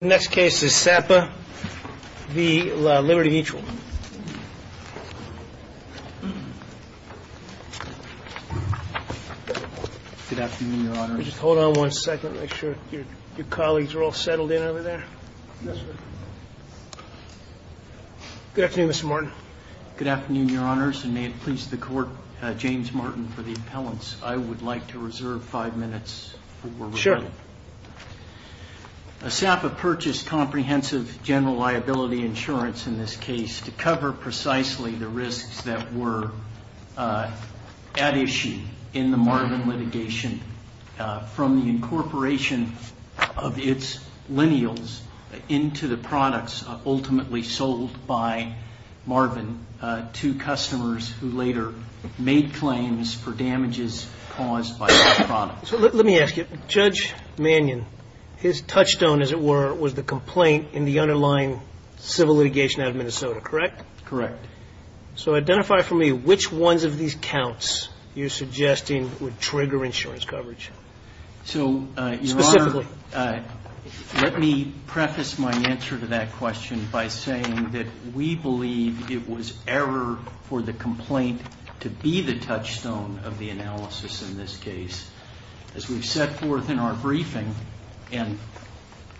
The next case is SAPA v. Liberty Mutual. Good afternoon, Your Honor. Just hold on one second. Make sure your colleagues are all settled in over there. Yes, sir. Good afternoon, Mr. Martin. Good afternoon, Your Honors, and may it please the Court, James Martin, for the appellants. I would like to reserve five minutes for review. Sure. SAPA purchased comprehensive general liability insurance in this case to cover precisely the risks that were at issue in the Marvin litigation from the incorporation of its lineals into the products ultimately sold by Marvin to customers who later made claims for damages caused by that product. So let me ask you, Judge Mannion, his touchstone, as it were, was the complaint in the underlying civil litigation out of Minnesota, correct? Correct. So identify for me which ones of these counts you're suggesting would trigger insurance coverage. So, Your Honor, let me preface my answer to that question by saying that we believe it was error for the complaint to be the touchstone of the analysis in this case. As we've set forth in our briefing and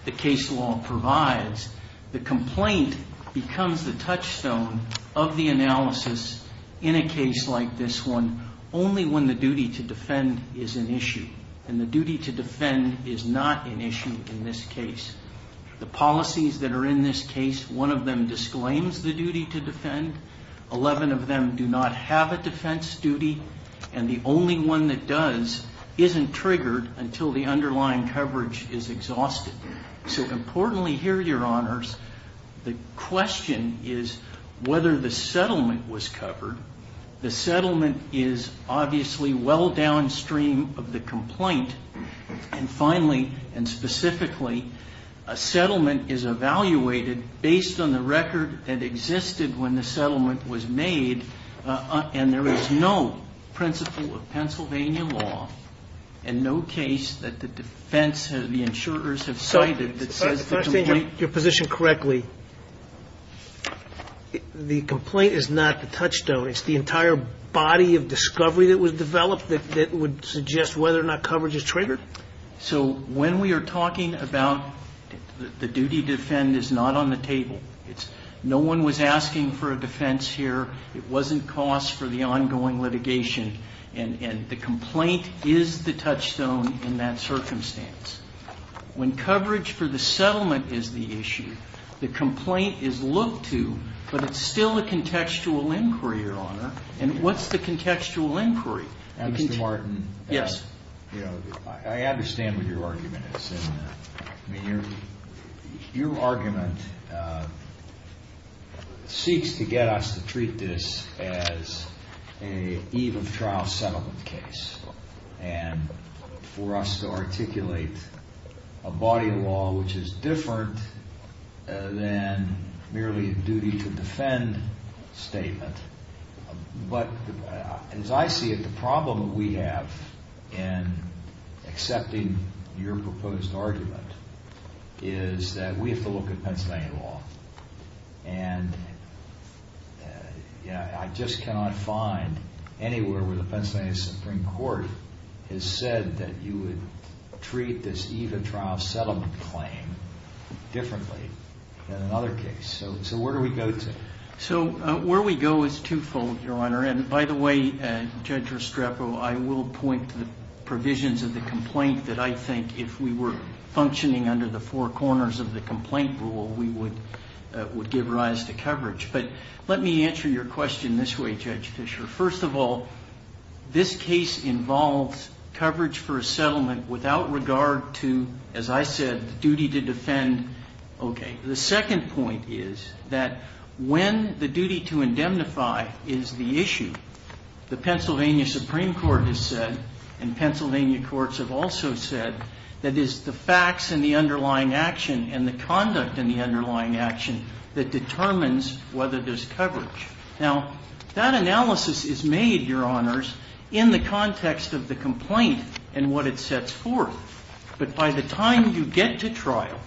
the case law provides, the complaint becomes the touchstone of the analysis in a case like this one only when the duty to defend is an issue. And the duty to defend is not an issue in this case. The policies that are in this case, one of them disclaims the duty to defend, 11 of them do not have a defense duty, and the only one that does isn't triggered until the underlying coverage is exhausted. So importantly here, Your Honors, the question is whether the settlement was covered. The settlement is obviously well downstream of the complaint. And finally, and specifically, a settlement is evaluated based on the record that existed when the settlement was made, and there is no principle of Pennsylvania law and no case that the defense, the insurers have cited that says the complaint. If I understand your position correctly, the complaint is not the touchstone. It's the entire body of discovery that was developed that would suggest whether or not coverage is triggered. So when we are talking about the duty to defend is not on the table. No one was asking for a defense here. It wasn't cost for the ongoing litigation. And the complaint is the touchstone in that circumstance. When coverage for the settlement is the issue, the complaint is looked to, but it's still a contextual inquiry, Your Honor. And what's the contextual inquiry? Mr. Martin. Yes. I understand what your argument is. Your argument seeks to get us to treat this as an eve of trial settlement case and for us to articulate a body of law which is different than merely a duty to defend statement. But as I see it, the problem that we have in accepting your proposed argument is that we have to look at Pennsylvania law. And I just cannot find anywhere where the Pennsylvania Supreme Court has said that you would treat this eve of trial settlement claim differently than another case. So where do we go to? So where we go is twofold, Your Honor. And by the way, Judge Restrepo, I will point to the provisions of the complaint that I think if we were functioning under the four corners of the complaint rule, we would give rise to coverage. But let me answer your question this way, Judge Fisher. First of all, this case involves coverage for a settlement without regard to, as I said, the duty to defend. Okay. The second point is that when the duty to indemnify is the issue, the Pennsylvania Supreme Court has said and Pennsylvania courts have also said that it's the facts and the underlying action and the conduct and the underlying action that determines whether there's coverage. Now, that analysis is made, Your Honors, in the context of the complaint and what it sets forth. But by the time you get to trial,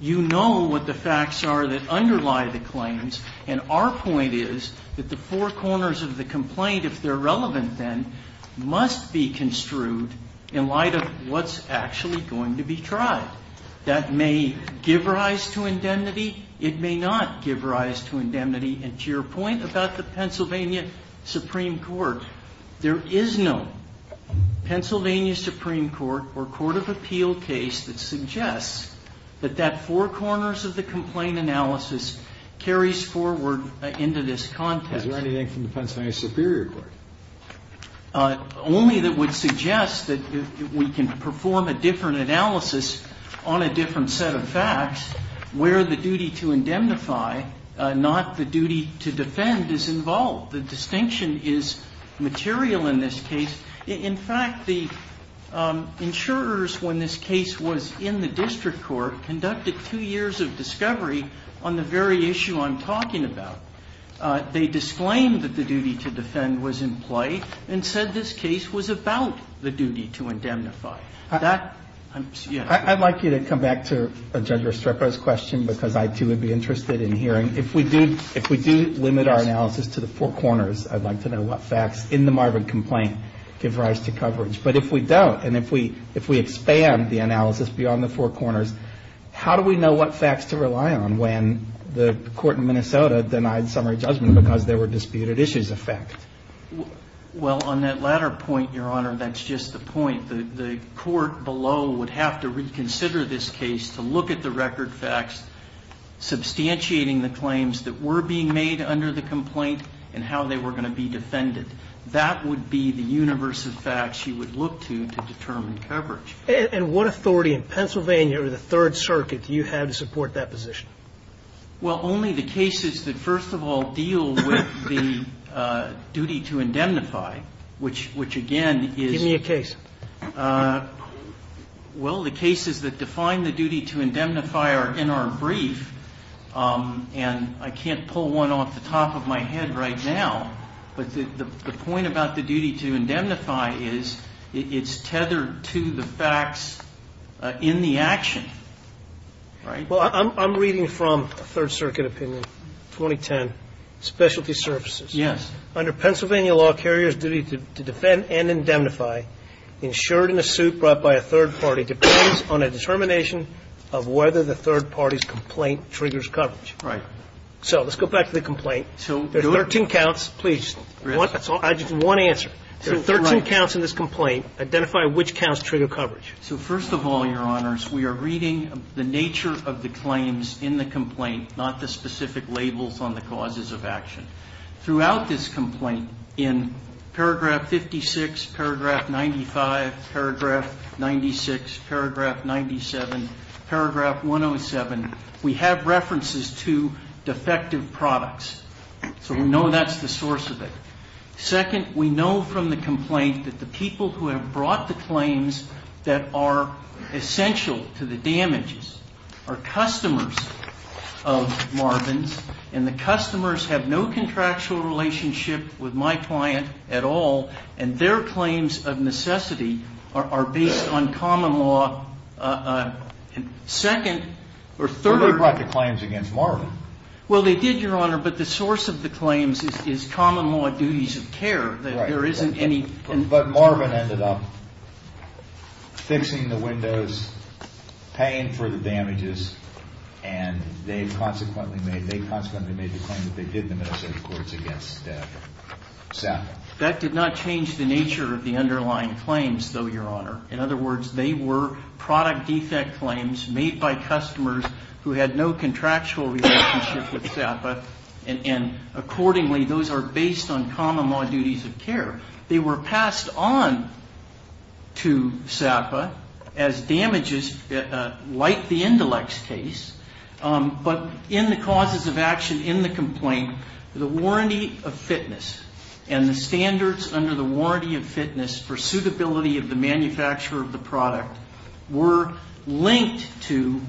you know what the facts are that underlie the claims. And our point is that the four corners of the complaint, if they're relevant then, must be construed in light of what's actually going to be tried. That may give rise to indemnity. It may not give rise to indemnity. And to your point about the Pennsylvania Supreme Court, there is no Pennsylvania Supreme Court or court of appeal case that suggests that that four corners of the complaint analysis carries forward into this context. Is there anything from the Pennsylvania Superior Court? Only that would suggest that we can perform a different analysis on a different set of facts where the duty to indemnify, not the duty to defend, is involved. The distinction is material in this case. In fact, the insurers, when this case was in the district court, conducted two years of discovery on the very issue I'm talking about. They disclaimed that the duty to defend was in play and said this case was about the duty to indemnify. I'd like you to come back to Judge Restrepo's question because I, too, would be interested in hearing. If we do limit our analysis to the four corners, I'd like to know what facts in the Marvin complaint give rise to coverage. But if we don't and if we expand the analysis beyond the four corners, how do we know what facts to rely on when the court in Minnesota denied summary judgment because there were disputed issues of fact? Well, on that latter point, Your Honor, that's just the point. The court below would have to reconsider this case to look at the record facts, substantiating the claims that were being made under the complaint and how they were going to be defended. That would be the universe of facts you would look to to determine coverage. And what authority in Pennsylvania or the Third Circuit do you have to support that position? Well, only the cases that, first of all, deal with the duty to indemnify, which again is the case. Give me a case. Well, the cases that define the duty to indemnify are in our brief, and I can't pull one off the top of my head right now. But the point about the duty to indemnify is it's tethered to the facts in the action, right? Well, I'm reading from a Third Circuit opinion, 2010, specialty services. Yes. Under Pennsylvania law, a carrier's duty to defend and indemnify, insured in a suit brought by a third party, depends on a determination of whether the third party's complaint triggers coverage. Right. So let's go back to the complaint. So do it. There's 13 counts. Please, one answer. There are 13 counts in this complaint. Identify which counts trigger coverage. So first of all, Your Honors, we are reading the nature of the claims in the complaint, not the specific labels on the causes of action. Throughout this complaint, in Paragraph 56, Paragraph 95, Paragraph 96, Paragraph 97, Paragraph 107, we have references to defective products. So we know that's the source of it. Second, we know from the complaint that the people who have brought the claims that are essential to the damages are customers of Marvin's, and the customers have no contractual relationship with my client at all, and their claims of necessity are based on common law. Second, or third. Nobody brought the claims against Marvin. Well, they did, Your Honor, but the source of the claims is common law duties of care. There isn't any. But Marvin ended up fixing the windows, paying for the damages, and they consequently made the claim that they did the Minnesota Courts against SAPA. That did not change the nature of the underlying claims, though, Your Honor. In other words, they were product defect claims made by customers who had no contractual relationship with SAPA, and accordingly those are based on common law duties of care. They were passed on to SAPA as damages like the Indelex case, but in the causes of action in the complaint, the warranty of fitness and the standards under the warranty of fitness for suitability of the manufacturer of the product were linked to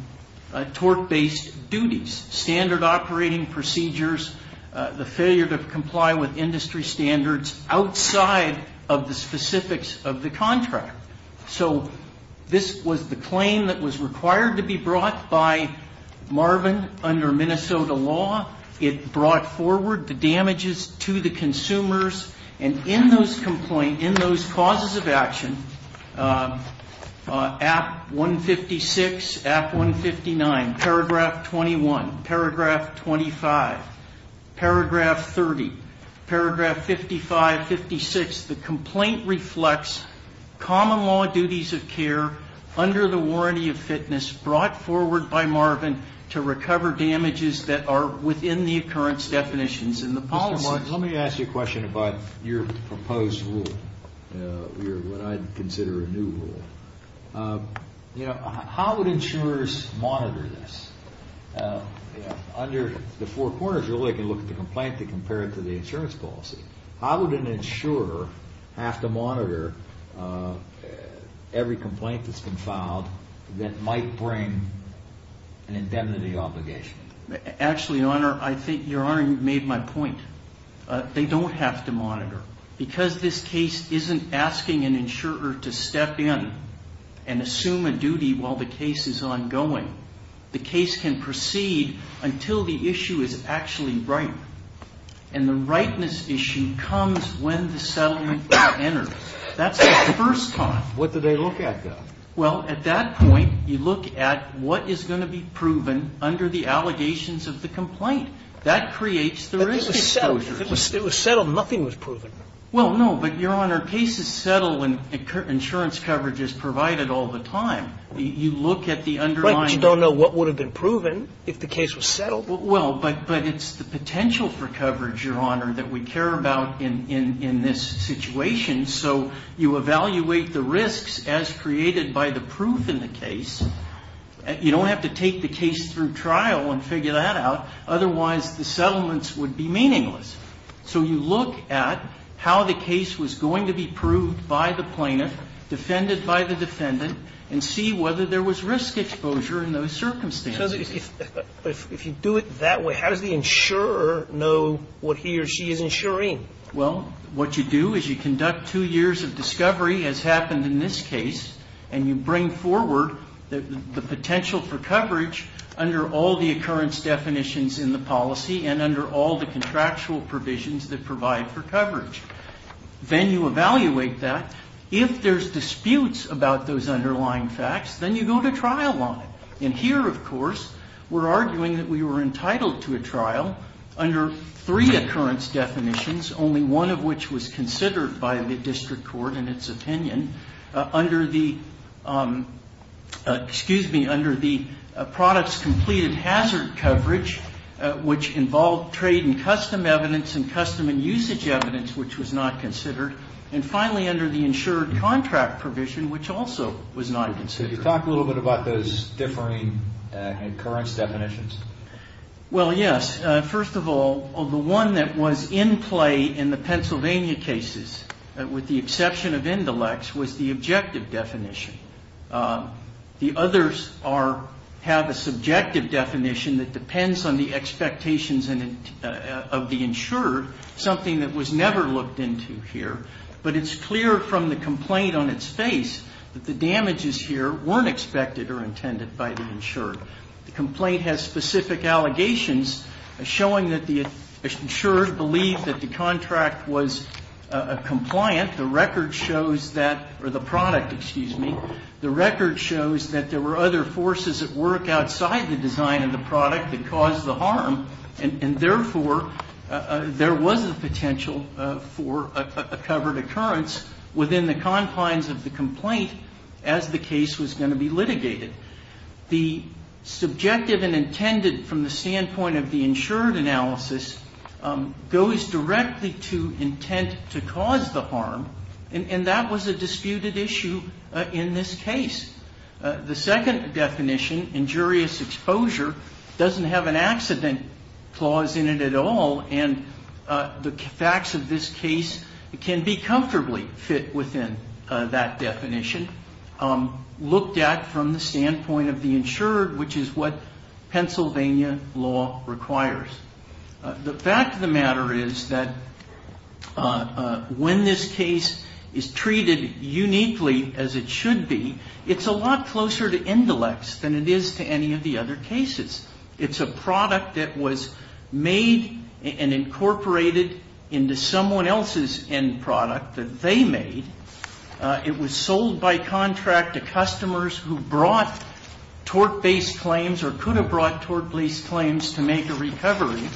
tort-based duties, standard operating procedures, the failure to comply with industry standards outside of the specifics of the contract. So this was the claim that was required to be brought by Marvin under Minnesota law. It brought forward the damages to the consumers. And in those causes of action, Act 156, Act 159, Paragraph 21, Paragraph 25, Paragraph 30, Paragraph 55, 56, the complaint reflects common law duties of care under the warranty of fitness brought forward by Marvin to recover damages that are within the occurrence definitions. Let me ask you a question about your proposed rule, what I'd consider a new rule. How would insurers monitor this? Under the Four Corners Rule, they can look at the complaint to compare it to the insurance policy. How would an insurer have to monitor every complaint that's been filed that might bring an indemnity obligation? Actually, Your Honor, I think Your Honor made my point. They don't have to monitor. Because this case isn't asking an insurer to step in and assume a duty while the case is ongoing. The case can proceed until the issue is actually right. And the rightness issue comes when the settlement is entered. That's the first time. What do they look at, though? Well, at that point, you look at what is going to be proven under the allegations of the complaint. That creates the risk exposure. But it was settled. Nothing was proven. Well, no, but, Your Honor, cases settle when insurance coverage is provided all the time. You look at the underlying. Right, but you don't know what would have been proven if the case was settled. Well, but it's the potential for coverage, Your Honor, that we care about in this situation. So you evaluate the risks as created by the proof in the case. You don't have to take the case through trial and figure that out. Otherwise, the settlements would be meaningless. So you look at how the case was going to be proved by the plaintiff, defended by the defendant, and see whether there was risk exposure in those circumstances. But if you do it that way, how does the insurer know what he or she is insuring? Well, what you do is you conduct two years of discovery, as happened in this case, and you bring forward the potential for coverage under all the occurrence definitions in the policy and under all the contractual provisions that provide for coverage. Then you evaluate that. If there's disputes about those underlying facts, then you go to trial on it. And here, of course, we're arguing that we were entitled to a trial under three occurrence definitions, only one of which was considered by the district court in its opinion, under the products completed hazard coverage, which involved trade and custom evidence and custom and usage evidence, which was not considered, and finally under the insured contract provision, which also was not considered. Could you talk a little bit about those differing occurrence definitions? Well, yes. First of all, the one that was in play in the Pennsylvania cases, with the exception of Indilex, was the objective definition. The others have a subjective definition that depends on the expectations of the insurer, something that was never looked into here. But it's clear from the complaint on its face that the damages here weren't expected or intended by the insurer. The complaint has specific allegations showing that the insurer believed that the contract was compliant. The record shows that, or the product, excuse me, the record shows that there were other forces at work outside the design of the product that caused the harm, and therefore there was a potential for a covered occurrence within the confines of the complaint as the case was going to be litigated. The subjective and intended from the standpoint of the insured analysis goes directly to intent to cause the harm, and that was a disputed issue in this case. The second definition, injurious exposure, doesn't have an accident clause in it at all, and the facts of this case can be comfortably fit within that definition, looked at from the standpoint of the insured, which is what Pennsylvania law requires. The fact of the matter is that when this case is treated uniquely as it should be, it's a lot closer to indelex than it is to any of the other cases. It's a product that was made and incorporated into someone else's end product that they made. It was sold by contract to customers who brought tort-based claims or could have brought tort-based claims to make a recovery,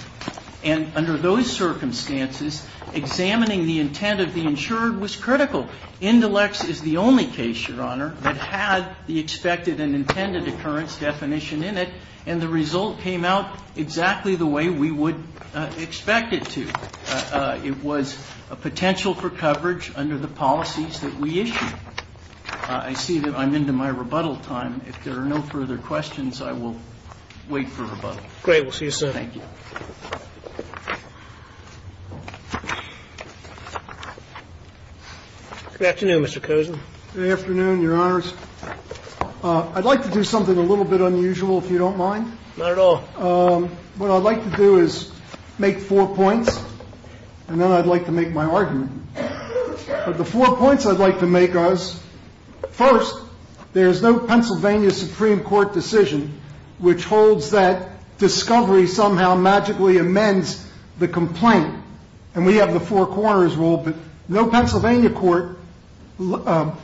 and under those circumstances, examining the intent of the insured was critical. Indelex is the only case, Your Honor, that had the expected and intended occurrence definition in it, and the result came out exactly the way we would expect it to. It was a potential for coverage under the policies that we issued. I see that I'm into my rebuttal time. If there are no further questions, I will wait for rebuttal. Great. We'll see you, sir. Thank you. Good afternoon, Mr. Cozen. Good afternoon, Your Honors. I'd like to do something a little bit unusual, if you don't mind. Not at all. What I'd like to do is make four points, and then I'd like to make my argument. But the four points I'd like to make are, first, there is no Pennsylvania Supreme Court decision which holds that discovery somehow magically amends the complaint. And we have the four corners rule, but no Pennsylvania court,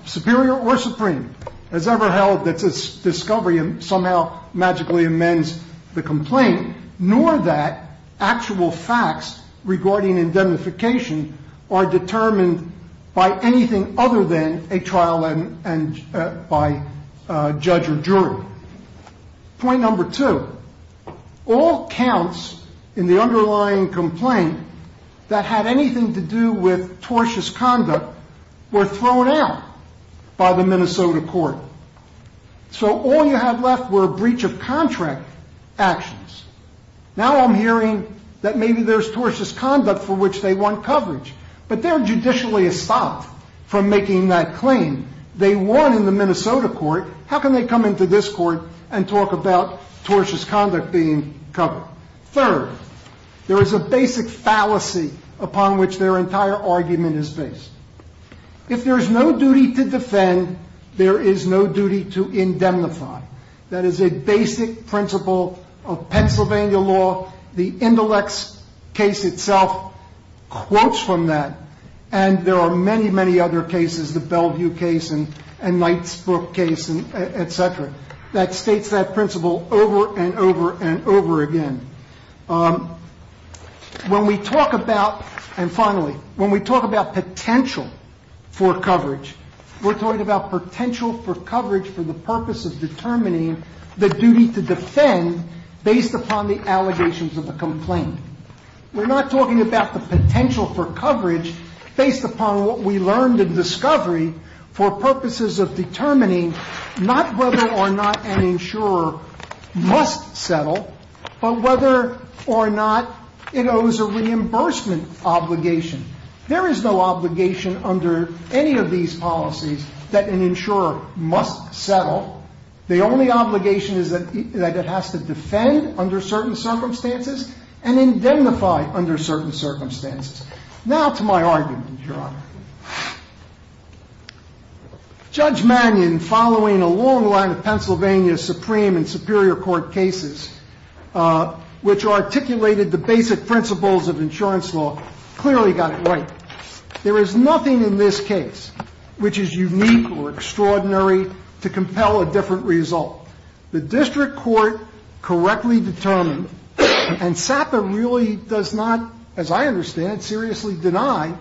superior or supreme, has ever held that this discovery somehow magically amends the complaint, nor that actual facts regarding indemnification are determined by anything other than a trial by judge or jury. Point number two, all counts in the underlying complaint that had anything to do with tortious conduct were thrown out by the Minnesota court. So all you have left were breach of contract actions. Now I'm hearing that maybe there's tortious conduct for which they want coverage, but they're judicially stopped from making that claim. They won in the Minnesota court. How can they come into this court and talk about tortious conduct being covered? Third, there is a basic fallacy upon which their entire argument is based. If there is no duty to defend, there is no duty to indemnify. That is a basic principle of Pennsylvania law. The Indelex case itself quotes from that, and there are many, many other cases, the Bellevue case and Knight's book case, et cetera, that states that principle over and over and over again. When we talk about, and finally, when we talk about potential for coverage, we're talking about potential for coverage for the purpose of determining the duty to defend based upon the allegations of a complaint. We're not talking about the potential for coverage based upon what we learned in discovery for purposes of determining not whether or not an insurer must settle, but whether or not it owes a reimbursement obligation. There is no obligation under any of these policies that an insurer must settle. The only obligation is that it has to defend under certain circumstances and indemnify under certain circumstances. Now to my argument, Your Honor. Judge Mannion, following a long line of Pennsylvania Supreme and Superior Court cases, which articulated the basic principles of insurance law, clearly got it right. There is nothing in this case which is unique or extraordinary to compel a different result. The district court correctly determined, and SAPA really does not, as I understand it, seriously deny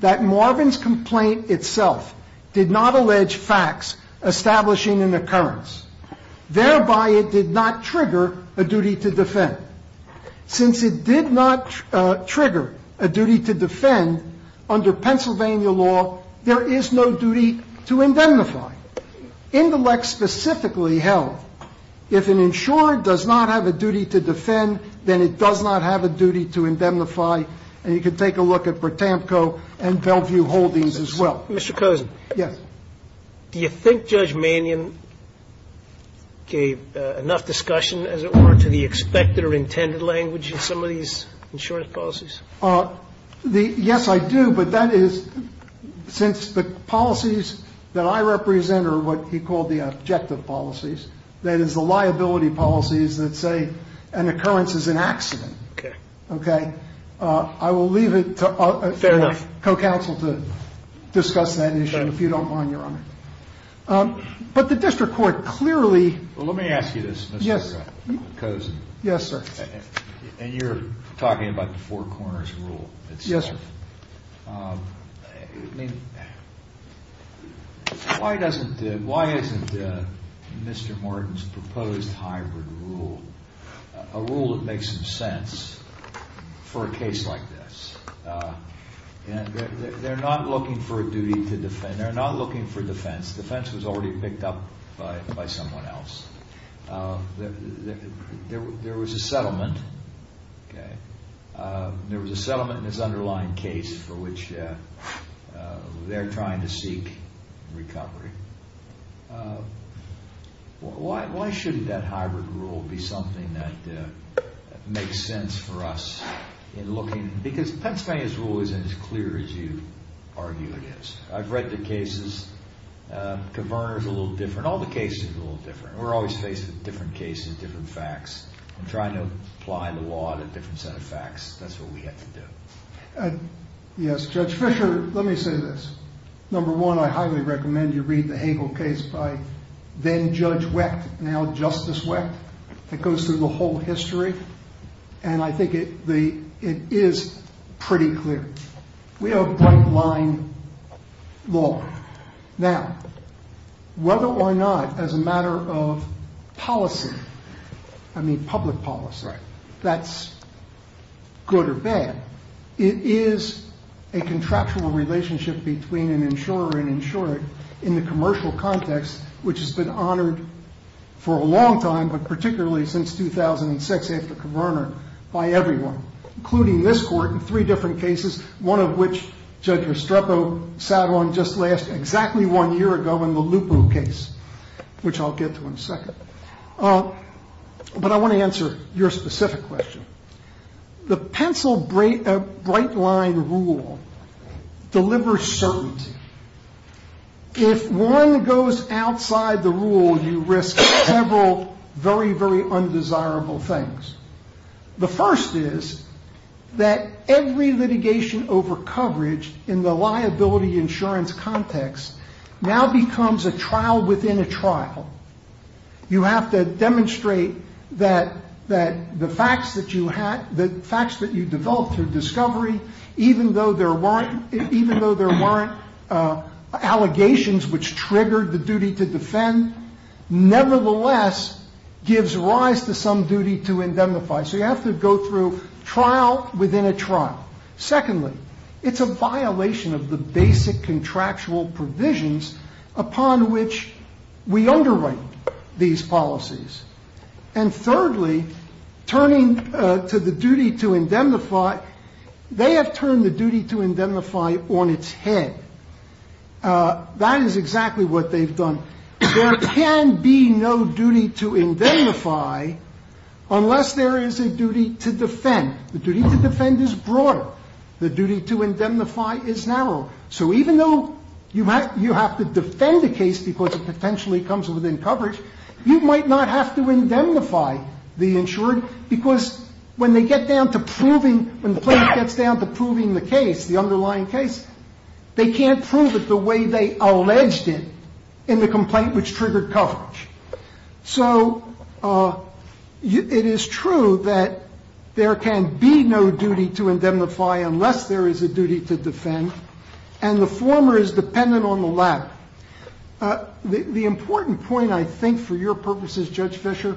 that Marvin's complaint itself did not allege facts establishing an occurrence. Thereby, it did not trigger a duty to defend. Since it did not trigger a duty to defend, under Pennsylvania law, there is no duty to indemnify. In the Lex specifically held, if an insurer does not have a duty to defend, then it does not have a duty to indemnify. And you can take a look at Bertamco and Bellevue Holdings as well. Mr. Cozen. Yes. Do you think Judge Mannion gave enough discussion, as it were, to the expected or intended language in some of these insurance policies? Yes, I do. But that is since the policies that I represent are what he called the objective policies, that is, the liability policies that say an occurrence is an accident. Okay. Okay. I will leave it to co-counsel to discuss that issue if you don't mind. Thank you, Your Honor. But the district court clearly Let me ask you this, Mr. Cozen. Yes, sir. And you're talking about the four corners rule itself. Yes, sir. I mean, why isn't Mr. Morton's proposed hybrid rule a rule that makes some sense for a case like this? They're not looking for a duty to defend. They're not looking for defense. Defense was already picked up by someone else. There was a settlement. Okay. There was a settlement in this underlying case for which they're trying to seek recovery. Why shouldn't that hybrid rule be something that makes sense for us in looking because Pennsylvania's rule isn't as clear as you argue it is. I've read the cases. Converter's a little different. All the cases are a little different. We're always faced with different cases, different facts. I'm trying to apply the law to a different set of facts. That's what we have to do. Yes, Judge Fischer, let me say this. Number one, I highly recommend you read the Hagel case by then-Judge Wecht, now Justice Wecht, that goes through the whole history. I think it is pretty clear. We have bright-line law. Now, whether or not as a matter of policy, I mean public policy, that's good or bad, it is a contractual relationship between an insurer and insured in the commercial context which has been honored for a long time but particularly since 2006 after Converter by everyone, including this Court in three different cases, one of which Judge Estrepo sat on just last exactly one year ago in the Lupo case, which I'll get to in a second. But I want to answer your specific question. The pencil bright-line rule delivers certainty. If one goes outside the rule, you risk several very, very undesirable things. The first is that every litigation over coverage in the liability insurance context now becomes a trial within a trial. You have to demonstrate that the facts that you developed through discovery, even though there weren't allegations which triggered the duty to defend, nevertheless gives rise to some duty to indemnify. So you have to go through trial within a trial. Secondly, it's a violation of the basic contractual provisions upon which we underwrite these policies. And thirdly, turning to the duty to indemnify, they have turned the duty to indemnify on its head. That is exactly what they've done. There can be no duty to indemnify unless there is a duty to defend. The duty to defend is broader. The duty to indemnify is narrower. So even though you have to defend a case because it potentially comes within coverage, you might not have to indemnify the insured because when they get down to proving when the plaintiff gets down to proving the case, the underlying case, they can't prove it the way they alleged it in the complaint which triggered coverage. So it is true that there can be no duty to indemnify unless there is a duty to defend, and the former is dependent on the latter. The important point, I think, for your purposes, Judge Fischer,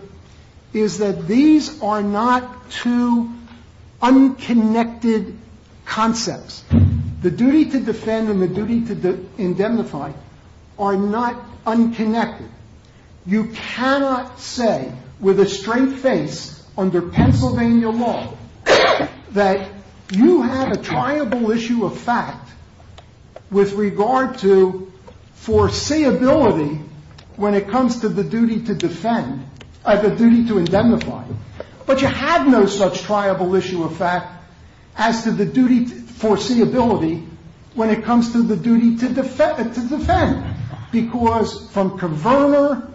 is that these are not two unconnected concepts. The duty to defend and the duty to indemnify are not unconnected. You cannot say with a straight face under Pennsylvania law that you have a triable issue of fact with regard to foreseeability when it comes to the duty to defend, the duty to indemnify. But you have no such triable issue of fact as to the duty to foreseeability when it comes to the duty to defend. Because from Kverner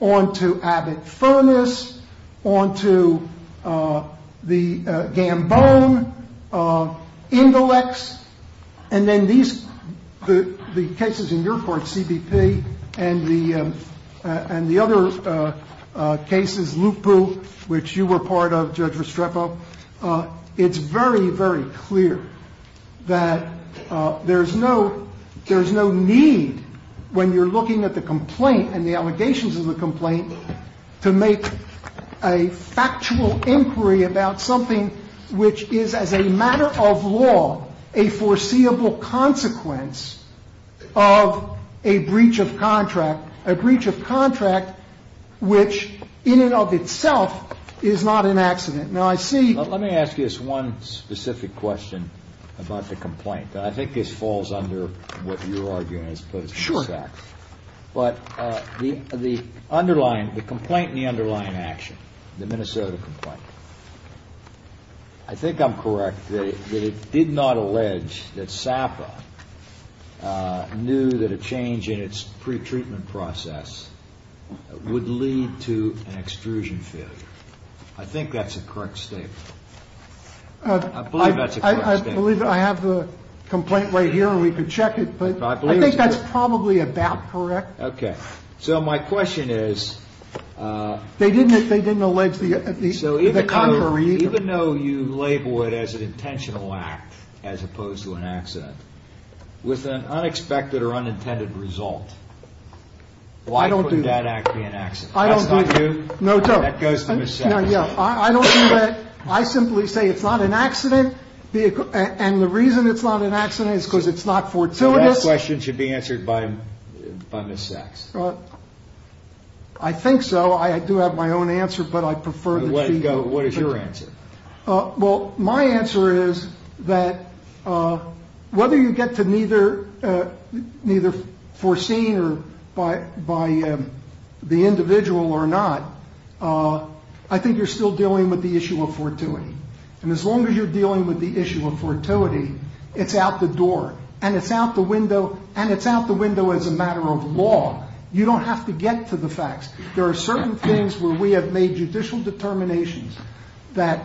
on to Abbott Furness, on to the Gambone, Indelex, and then the cases in your court, CBP, and the other cases, Lupu, which you were part of, Judge Restrepo, it's very, very clear that there's no need when you're looking at the complaint and the allegations of the complaint to make a factual inquiry about something which is as a matter of law a foreseeable consequence of a breach of contract, a breach of contract which in and of itself is not an accident. Now, I see Let me ask you this one specific question about the complaint. I think this falls under what you're arguing as opposed to the facts. Sure. But the underlying, the complaint in the underlying action, the Minnesota complaint, I think I'm correct that it did not allege that SAPA knew that a change in its pretreatment process would lead to an extrusion failure. I think that's a correct statement. I believe that's a correct statement. I believe I have the complaint right here and we can check it. But I think that's probably about correct. Okay. So my question is They didn't allege the contrary either. So even though you label it as an intentional act as opposed to an accident, with an unexpected or unintended result, why couldn't that act be an accident? I don't do that. That goes to Ms. Sacks. I don't do that. I simply say it's not an accident. And the reason it's not an accident is because it's not fortuitous. That question should be answered by Ms. Sacks. I think so. I do have my own answer, but I prefer that she go first. What is your answer? Well, my answer is that whether you get to neither foreseen by the individual or not, I think you're still dealing with the issue of fortuity. And as long as you're dealing with the issue of fortuity, it's out the door. And it's out the window as a matter of law. You don't have to get to the facts. There are certain things where we have made judicial determinations that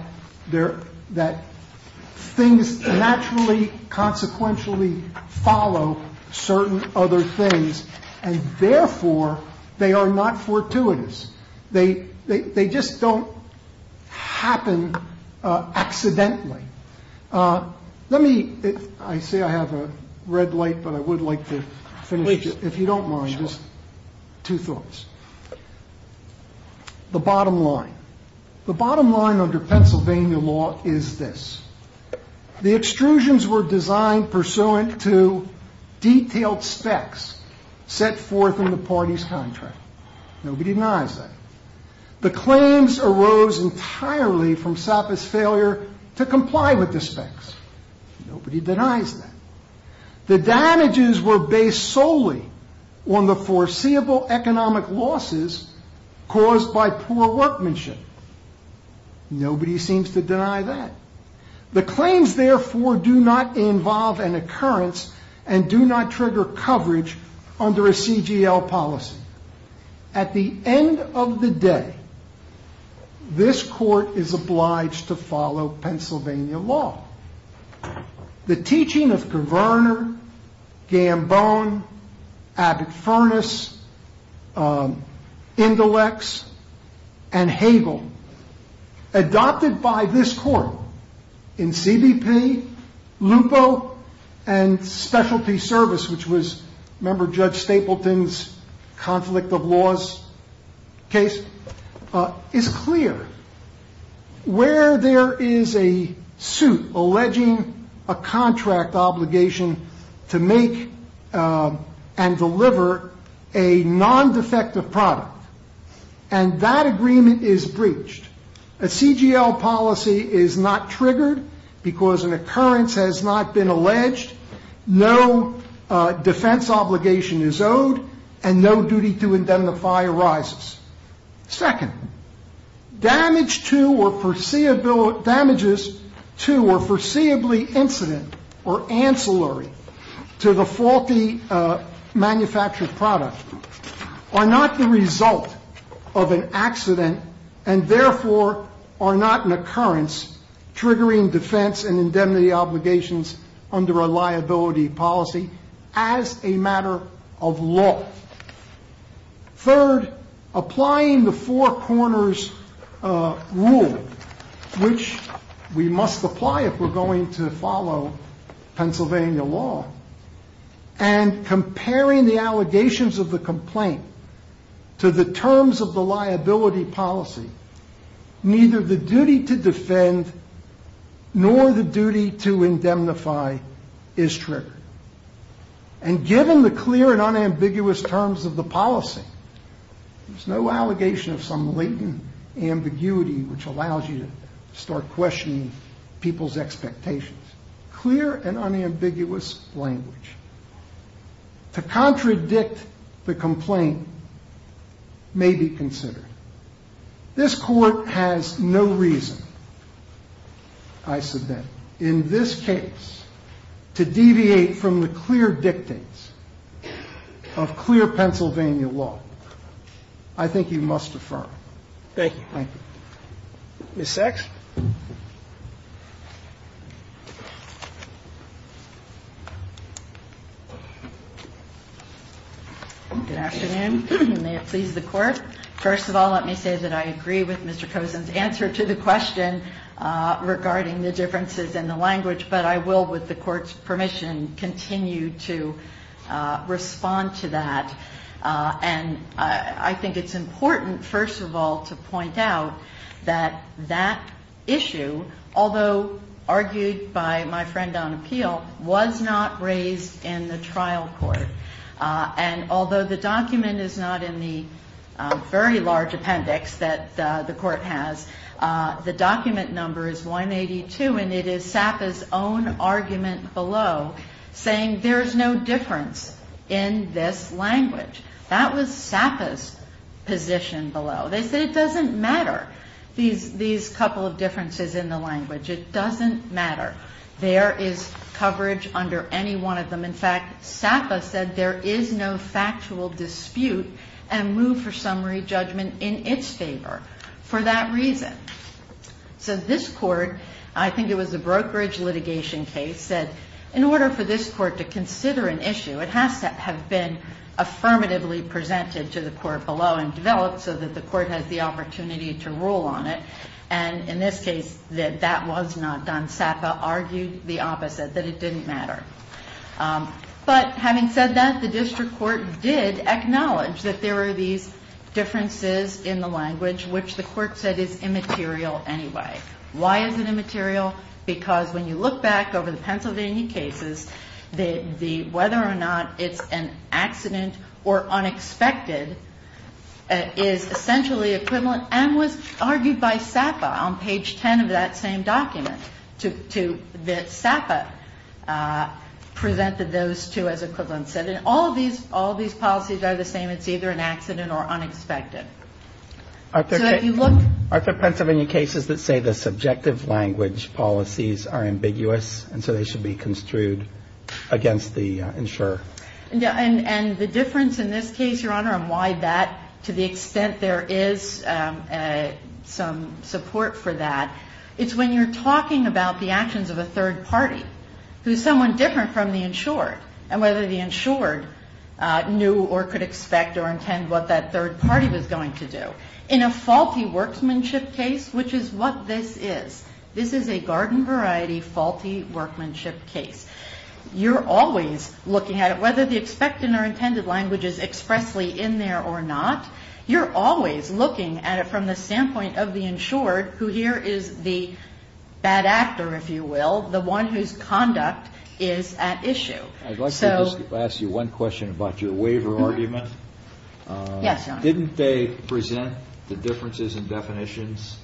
things naturally, consequentially follow certain other things, and therefore, they are not fortuitous. They just don't happen accidentally. Let me – I say I have a red light, but I would like to finish, if you don't mind, just two thoughts. The bottom line. The bottom line under Pennsylvania law is this. The extrusions were designed pursuant to detailed specs set forth in the party's contract. Nobody denies that. The claims arose entirely from Sapa's failure to comply with the specs. Nobody denies that. The damages were based solely on the foreseeable economic losses caused by poor workmanship. Nobody seems to deny that. The claims, therefore, do not involve an occurrence and do not trigger coverage under a CGL policy. At the end of the day, this court is obliged to follow Pennsylvania law. The teaching of Paverner, Gambone, Abbott-Furness, Indelex, and Hagel adopted by this court in CBP, Lupo, and specialty service, which was, remember, Judge Stapleton's conflict of laws case, is clear. Where there is a suit alleging a contract obligation to make and deliver a non-defective product, and that agreement is breached, a CGL policy is not triggered because an occurrence has not been alleged, no defense obligation is owed, and no duty to indemnify arises. Second, damages to or foreseeably incident or ancillary to the faulty manufactured product are not the result of an accident and therefore are not an occurrence triggering defense and indemnity obligations under a liability policy as a matter of law. Third, applying the four corners rule, which we must apply if we're going to follow Pennsylvania law, and comparing the allegations of the complaint to the terms of the liability policy, neither the duty to defend nor the duty to indemnify is triggered. And given the clear and unambiguous terms of the policy, there's no allegation of some latent ambiguity which allows you to start questioning people's expectations. Clear and unambiguous language to contradict the complaint may be considered. This Court has no reason, I submit, in this case to deviate from the clear dictates of clear Pennsylvania law. I think you must affirm. Thank you. Thank you. Ms. Sachs. Good afternoon. May it please the Court. First of all, let me say that I agree with Mr. Cosen's answer to the question regarding the differences in the language, but I will, with the Court's permission, continue to respond to that. And I think it's important, first of all, to point out that that issue, although argued by my friend on appeal, was not raised in the trial court. And although the document is not in the very large appendix that the Court has, the document number is 182, and it is SAPA's own argument below saying there is no difference in this language. That was SAPA's position below. They said it doesn't matter, these couple of differences in the language. It doesn't matter. There is coverage under any one of them. In fact, SAPA said there is no factual dispute and move for summary judgment in its favor. For that reason. So this Court, I think it was a brokerage litigation case, said in order for this Court to consider an issue, it has to have been affirmatively presented to the Court below and developed so that the Court has the opportunity to rule on it. And in this case, that that was not done. SAPA argued the opposite, that it didn't matter. But having said that, the District Court did acknowledge that there were these differences in the language, which the Court said is immaterial anyway. Why is it immaterial? Because when you look back over the Pennsylvania cases, whether or not it's an accident or unexpected is essentially equivalent and was argued by SAPA on page 10 of that same document, that SAPA presented those two as equivalent. And all of these policies are the same. It's either an accident or unexpected. So if you look at the Pennsylvania cases that say the subjective language policies are ambiguous, and so they should be construed against the insurer. And the difference in this case, Your Honor, and why that, to the extent there is some support for that, it's when you're talking about the actions of a third party, who's someone different from the insured, and whether the insured knew or could expect or intend what that third party was going to do. In a faulty workmanship case, which is what this is, this is a garden-variety faulty workmanship case, you're always looking at it, whether the expectant or intended language is expressly in there or not, you're always looking at it from the standpoint of the insured, who here is the bad actor, if you will, the one whose conduct is at issue. I'd like to ask you one question about your waiver argument. Yes, Your Honor. Didn't they present the differences in definitions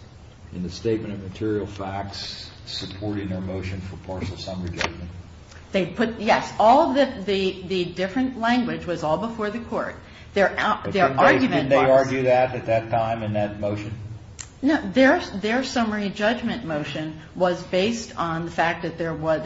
in the statement of material facts supporting their motion for partial summary judgment? Yes. The different language was all before the Court. Didn't they argue that at that time in that motion? No. Their summary judgment motion was based on the fact that there was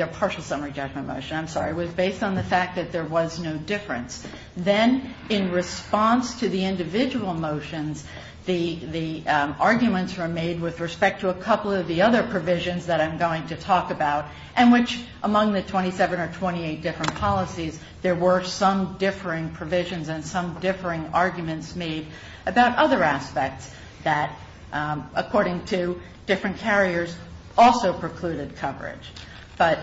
no difference. Then, in response to the individual motions, the arguments were made with respect to a couple of the other provisions that I'm going to talk about, and which among the 27 or 28 different policies, there were some differing provisions and some differing arguments made about other aspects that, according to different carriers, also precluded coverage. But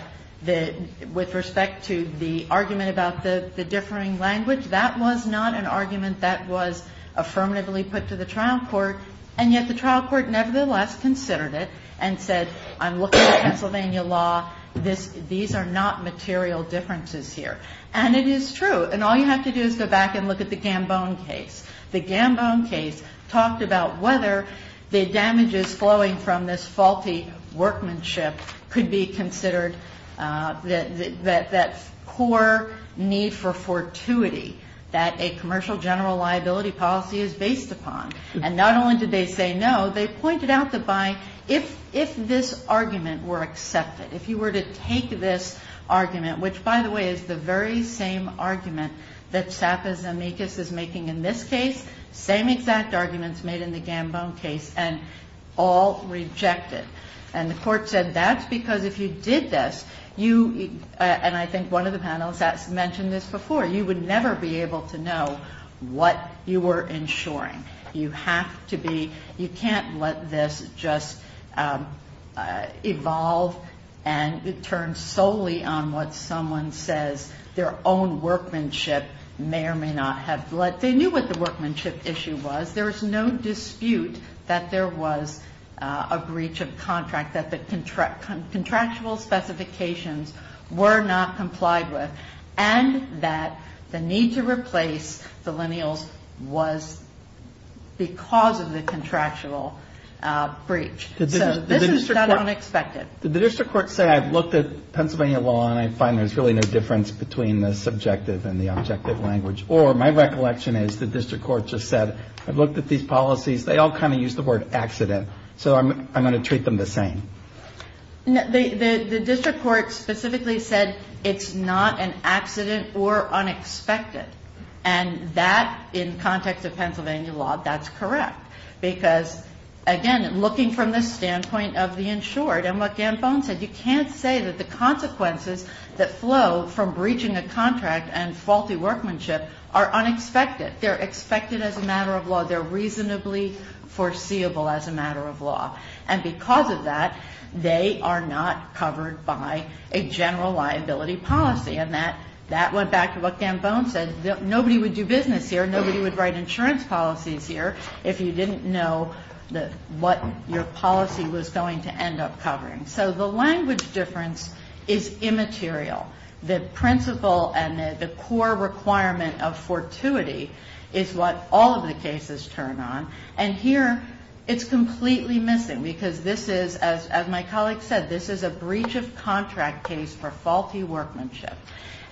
with respect to the argument about the differing language, that was not an argument that was affirmatively put to the trial court, and yet the trial court nevertheless considered it and said, I'm looking at Pennsylvania law. These are not material differences here. And it is true. And all you have to do is go back and look at the Gambone case. The Gambone case talked about whether the damages flowing from this faulty workmanship could be considered that core need for fortuity that a commercial general liability policy is based upon. And not only did they say no, they pointed out that if this argument were accepted, if you were to take this argument, which, by the way, is the very same argument that SAPA's amicus is making in this case, same exact arguments made in the Gambone case, and all reject it. And the court said that's because if you did this, and I think one of the panelists mentioned this before, you would never be able to know what you were insuring. You have to be, you can't let this just evolve and turn solely on what someone says their own workmanship may or may not have. They knew what the workmanship issue was. There is no dispute that there was a breach of contract, that the contractual specifications were not complied with, and that the need to replace the lineals was because of the contractual breach. So this is not unexpected. Did the district court say I've looked at Pennsylvania law and I find there's really no difference between the subjective and the objective language? Or my recollection is the district court just said I've looked at these policies. They all kind of use the word accident. So I'm going to treat them the same. The district court specifically said it's not an accident or unexpected. And that, in context of Pennsylvania law, that's correct. Because, again, looking from the standpoint of the insured and what Gambone said, you can't say that the consequences that flow from breaching a contract and faulty workmanship are unexpected. They're expected as a matter of law. They're reasonably foreseeable as a matter of law. And because of that, they are not covered by a general liability policy. And that went back to what Gambone said. Nobody would do business here. Nobody would write insurance policies here if you didn't know what your policy was going to end up covering. So the language difference is immaterial. The principle and the core requirement of fortuity is what all of the cases turn on. And here it's completely missing because this is, as my colleague said, this is a breach of contract case for faulty workmanship.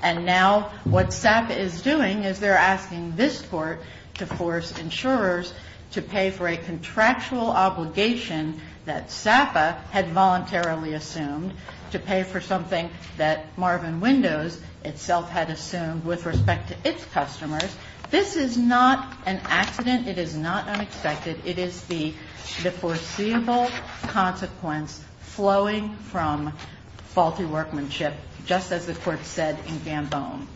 And now what SAPA is doing is they're asking this court to force insurers to pay for a contractual obligation that SAPA had voluntarily assumed to pay for something that Marvin Windows itself had assumed with respect to its customers. This is not an accident. It is not unexpected. It is the foreseeable consequence flowing from faulty workmanship, just as the court said in Gambone.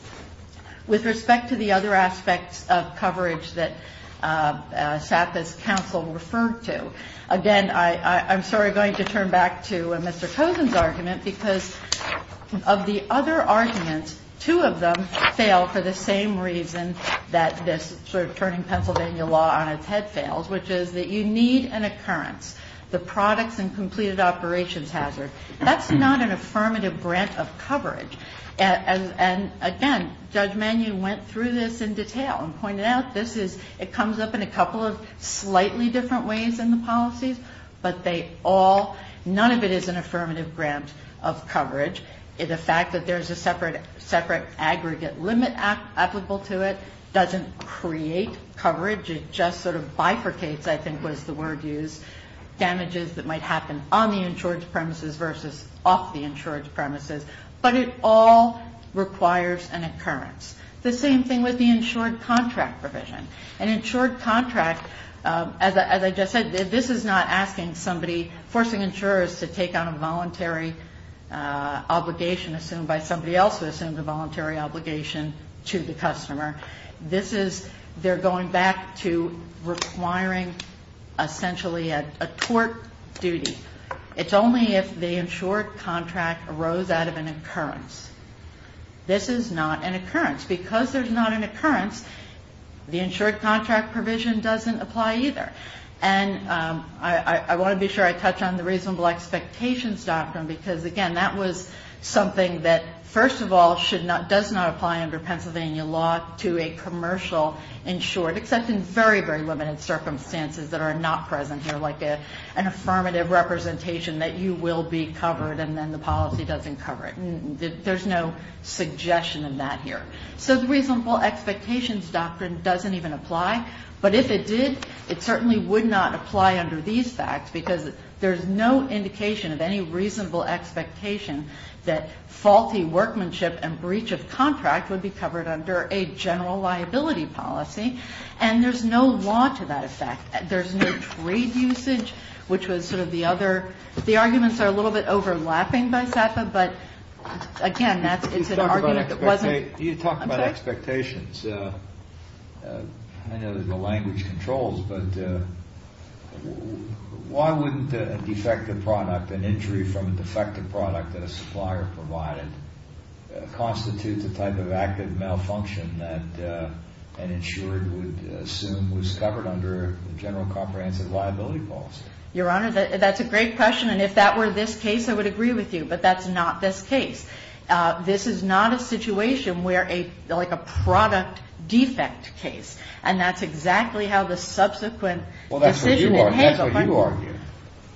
With respect to the other aspects of coverage that SAPA's counsel referred to, again, I'm sorry, going to turn back to Mr. Cozen's argument because of the other arguments, two of them fail for the same reason that this sort of turning Pennsylvania law on its head fails, which is that you need an occurrence, the products and completed operations hazard. That's not an affirmative grant of coverage. And, again, Judge Mannion went through this in detail and pointed out this is, it comes up in a couple of slightly different ways in the policies, but they all, none of it is an affirmative grant of coverage. The fact that there's a separate aggregate limit applicable to it doesn't create coverage. It just sort of bifurcates, I think was the word used, damages that might happen on the insured premises versus off the insured premises. But it all requires an occurrence. The same thing with the insured contract provision. An insured contract, as I just said, this is not asking somebody, forcing insurers to take on a voluntary obligation assumed by somebody else who assumed a voluntary obligation to the customer. This is, they're going back to requiring essentially a tort duty. It's only if the insured contract arose out of an occurrence. This is not an occurrence. Because there's not an occurrence, the insured contract provision doesn't apply either. And I want to be sure I touch on the reasonable expectations doctrine because, again, that was something that first of all should not, does not apply under Pennsylvania law to a commercial insured, except in very, very limited circumstances that are not present here, like an affirmative representation that you will be covered and then the policy doesn't cover it. There's no suggestion of that here. So the reasonable expectations doctrine doesn't even apply. But if it did, it certainly would not apply under these facts, because there's no indication of any reasonable expectation that faulty workmanship and breach of contract would be covered under a general liability policy. And there's no law to that effect. There's no trade usage, which was sort of the other, the arguments are a little bit overlapping by SAPPA. But, again, that's an argument that wasn't. You talked about expectations. I know there's no language controls, but why wouldn't a defective product, an injury from a defective product that a supplier provided, constitute the type of active malfunction that an insured would assume was covered under a general comprehensive liability policy? Your Honor, that's a great question. And if that were this case, I would agree with you. But that's not this case. This is not a situation where a, like a product defect case. And that's exactly how the subsequent decision in Hazel. Well, that's what you argue.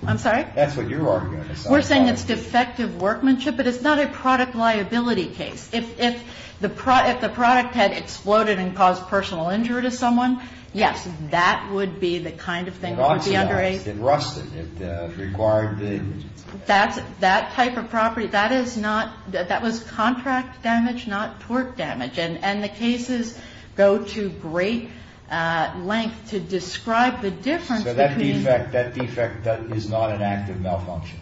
I'm sorry? That's what you're arguing. We're saying it's defective workmanship, but it's not a product liability case. If the product had exploded and caused personal injury to someone, yes, that would be the kind of thing that would be under a. It rusted. It required the. That type of property, that is not. That was contract damage, not torque damage. And the cases go to great length to describe the difference between. So that defect is not an active malfunction.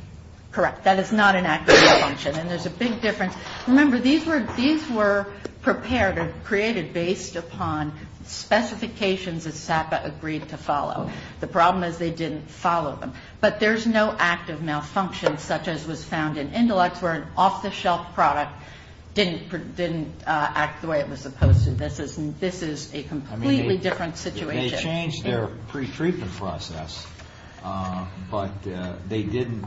Correct. That is not an active malfunction. And there's a big difference. Remember, these were prepared or created based upon specifications that SAPPA agreed to follow. The problem is they didn't follow them. But there's no active malfunction, such as was found in Indilex, where an off-the-shelf product didn't act the way it was supposed to. This is a completely different situation. They changed their pretreatment process. But they didn't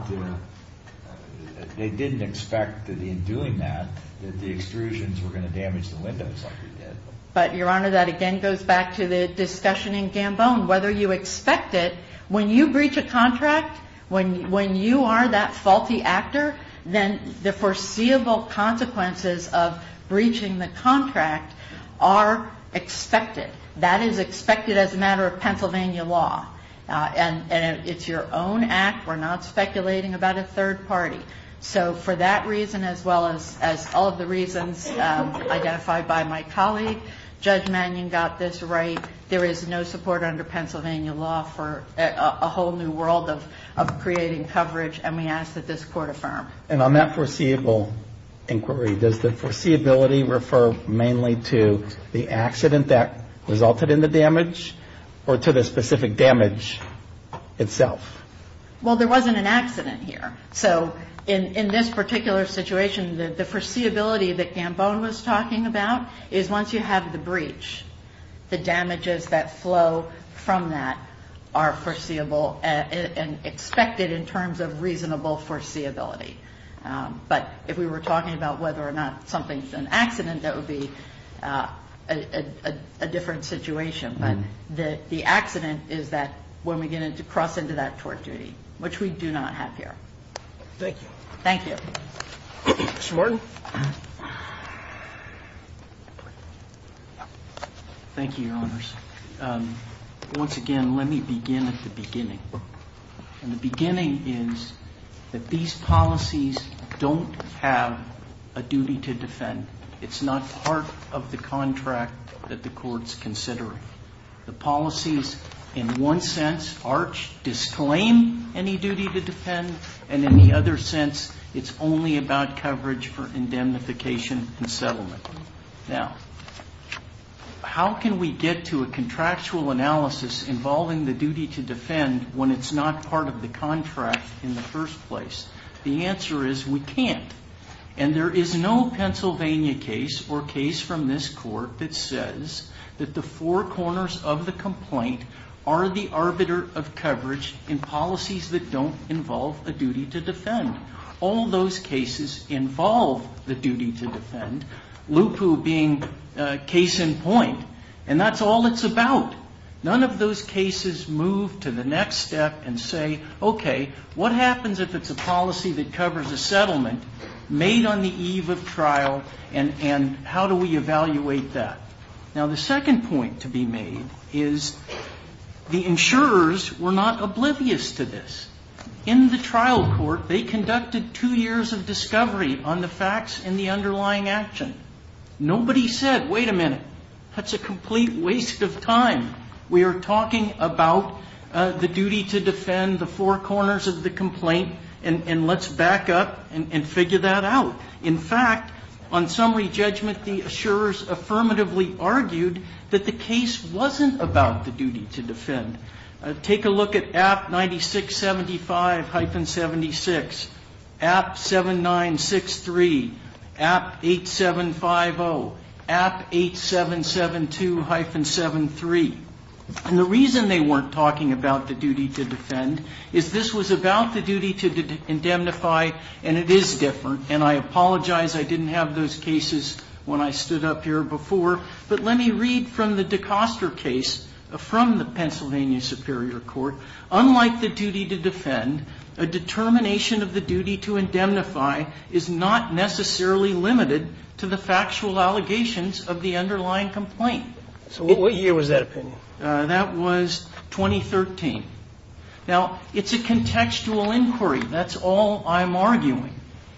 expect that in doing that, that the extrusions were going to damage the windows like they did. But, Your Honor, that again goes back to the discussion in Gambone. Whether you expect it, when you breach a contract, when you are that faulty actor, then the foreseeable consequences of breaching the contract are expected. That is expected as a matter of Pennsylvania law. And it's your own act. We're not speculating about a third party. So for that reason as well as all of the reasons identified by my colleague, Judge Mannion got this right. There is no support under Pennsylvania law for a whole new world of creating coverage. And we ask that this Court affirm. And on that foreseeable inquiry, does the foreseeability refer mainly to the accident that resulted in the damage or to the specific damage itself? Well, there wasn't an accident here. So in this particular situation, the foreseeability that Gambone was talking about is once you have the breach, the damages that flow from that are foreseeable and expected in terms of reasonable foreseeability. But if we were talking about whether or not something is an accident, that would be a different situation. But the accident is that when we get to cross into that tort duty, which we do not have here. Thank you. Thank you. Mr. Morton? Thank you, Your Honors. Once again, let me begin at the beginning. And the beginning is that these policies don't have a duty to defend. It's not part of the contract that the Court's considering. The policies in one sense arch, disclaim any duty to defend, and in the other sense it's only about coverage for indemnification and settlement. Now, how can we get to a contractual analysis involving the duty to defend when it's not part of the contract in the first place? The answer is we can't. And there is no Pennsylvania case or case from this Court that says that the four corners of the complaint are the arbiter of coverage in policies that don't involve a duty to defend. All those cases involve the duty to defend, lupu being case in point. And that's all it's about. None of those cases move to the next step and say, okay, what happens if it's a policy that covers a settlement made on the eve of trial, and how do we evaluate that? Now, the second point to be made is the insurers were not oblivious to this. In the trial court, they conducted two years of discovery on the facts in the underlying action. Nobody said, wait a minute, that's a complete waste of time. We are talking about the duty to defend, the four corners of the complaint, and let's back up and figure that out. In fact, on summary judgment, the insurers affirmatively argued that the case wasn't about the duty to defend. Take a look at App 9675-76, App 7963, App 8750, App 8772-73. And the reason they weren't talking about the duty to defend is this was about the duty to indemnify, and it is different. And I apologize I didn't have those cases when I stood up here before, but let me read from the DeCoster case from the Pennsylvania Superior Court. Unlike the duty to defend, a determination of the duty to indemnify is not necessarily limited to the factual allegations of the underlying complaint. So what year was that opinion? That was 2013. Now, it's a contextual inquiry. That's all I'm arguing.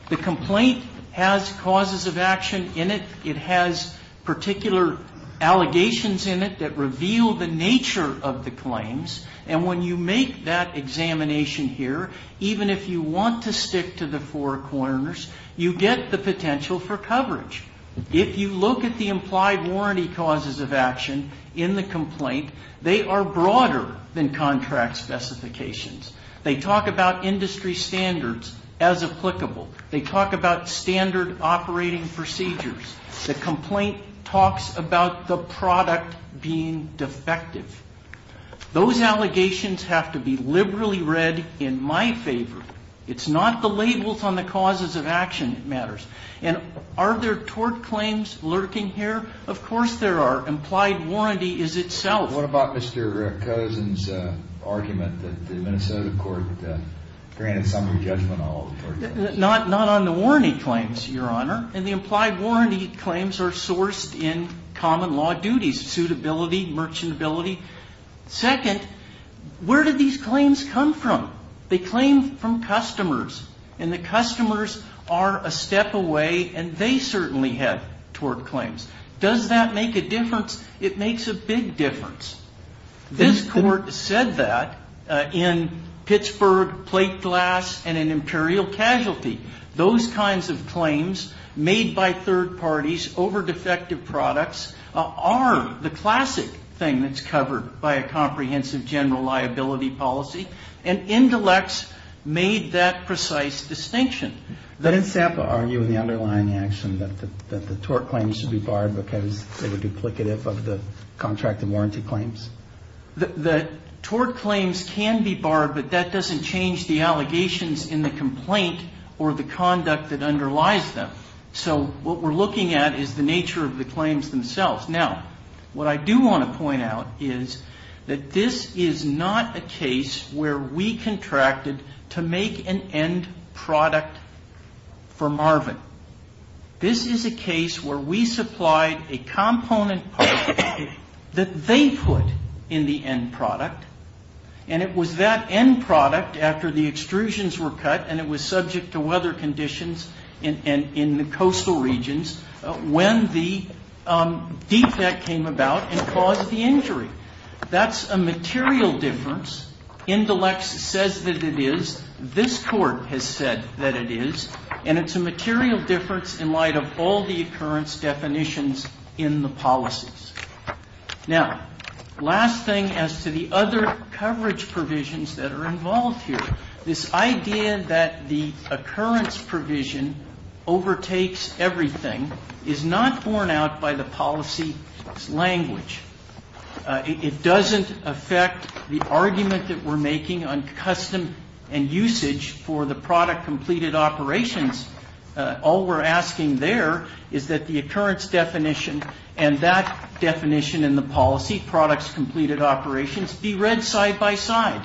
The complaint has causes of action in it. It has particular allegations in it that reveal the nature of the claims, and when you make that examination here, even if you want to stick to the four corners, you get the potential for coverage. If you look at the implied warranty causes of action in the complaint, they are broader than contract specifications. They talk about industry standards as applicable. They talk about standard operating procedures. The complaint talks about the product being defective. Those allegations have to be liberally read in my favor. It's not the labels on the causes of action that matters. And are there tort claims lurking here? Of course there are. Implied warranty is itself. What about Mr. Cozen's argument that the Minnesota court granted summary judgment on all the tort claims? Not on the warranty claims, Your Honor, and the implied warranty claims are sourced in common law duties, suitability, merchantability. Second, where do these claims come from? They claim from customers, and the customers are a step away, and they certainly have tort claims. Does that make a difference? It makes a big difference. This Court said that in Pittsburgh plate glass and in imperial casualty. Those kinds of claims made by third parties over defective products are the classic thing that's covered by a comprehensive general liability policy, and Indelex made that precise distinction. Didn't SAPA argue in the underlying action that the tort claims should be barred because they were duplicative of the contracted warranty claims? The tort claims can be barred, but that doesn't change the allegations in the complaint or the conduct that underlies them. So what we're looking at is the nature of the claims themselves. Now, what I do want to point out is that this is not a case where we contracted to make an end product for Marvin. This is a case where we supplied a component part that they put in the end product, and it was that end product after the extrusions were cut, and it was subject to weather conditions in the coastal regions when the defect came about and caused the injury. That's a material difference. Indelex says that it is. This Court has said that it is, and it's a material difference in light of all the occurrence definitions in the policies. Now, last thing as to the other coverage provisions that are involved here. This idea that the occurrence provision overtakes everything is not borne out by the policy's language. It doesn't affect the argument that we're making on custom and usage for the product-completed operations. All we're asking there is that the occurrence definition and that definition in the policy, products-completed operations, be read side-by-side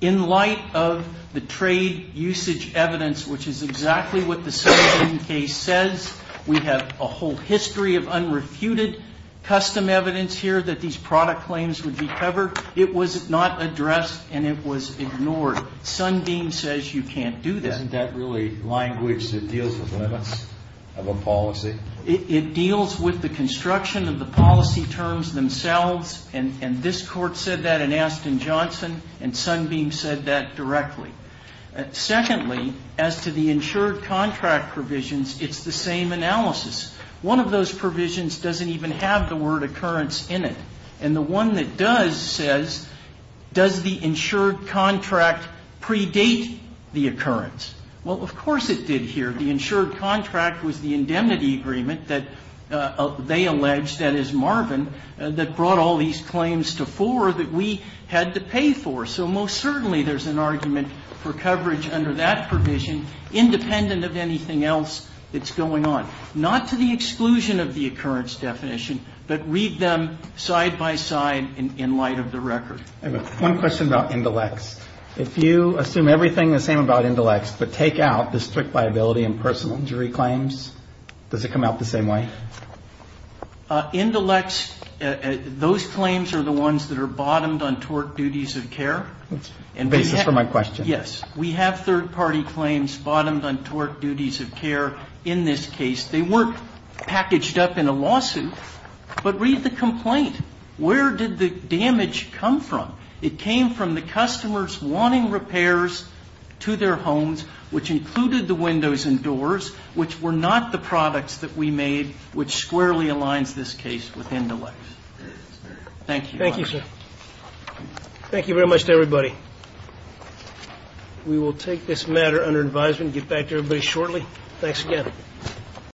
in light of the trade usage evidence, which is exactly what the Sunbeam case says. We have a whole history of unrefuted custom evidence here that these product claims would be covered. It was not addressed, and it was ignored. Sunbeam says you can't do that. Isn't that really language that deals with limits of a policy? It deals with the construction of the policy terms themselves. And this Court said that in Aston Johnson, and Sunbeam said that directly. Secondly, as to the insured contract provisions, it's the same analysis. One of those provisions doesn't even have the word occurrence in it. And the one that does says, does the insured contract predate the occurrence? Well, of course it did here. The insured contract was the indemnity agreement that they alleged, that is Marvin, that brought all these claims to fore that we had to pay for. So most certainly there's an argument for coverage under that provision, independent of anything else that's going on. Not to the exclusion of the occurrence definition, but read them side-by-side in light of the record. I have one question about Indilex. If you assume everything the same about Indilex, but take out the strict liability and personal injury claims, does it come out the same way? Indilex, those claims are the ones that are bottomed on tort duties of care. That's the basis for my question. Yes. We have third-party claims bottomed on tort duties of care in this case. They weren't packaged up in a lawsuit. But read the complaint. Where did the damage come from? It came from the customers wanting repairs to their homes, which included the windows and doors, which were not the products that we made, which squarely aligns this case with Indilex. Thank you. Thank you, sir. Thank you very much to everybody. We will take this matter under advisement and get back to everybody shortly. Thanks again.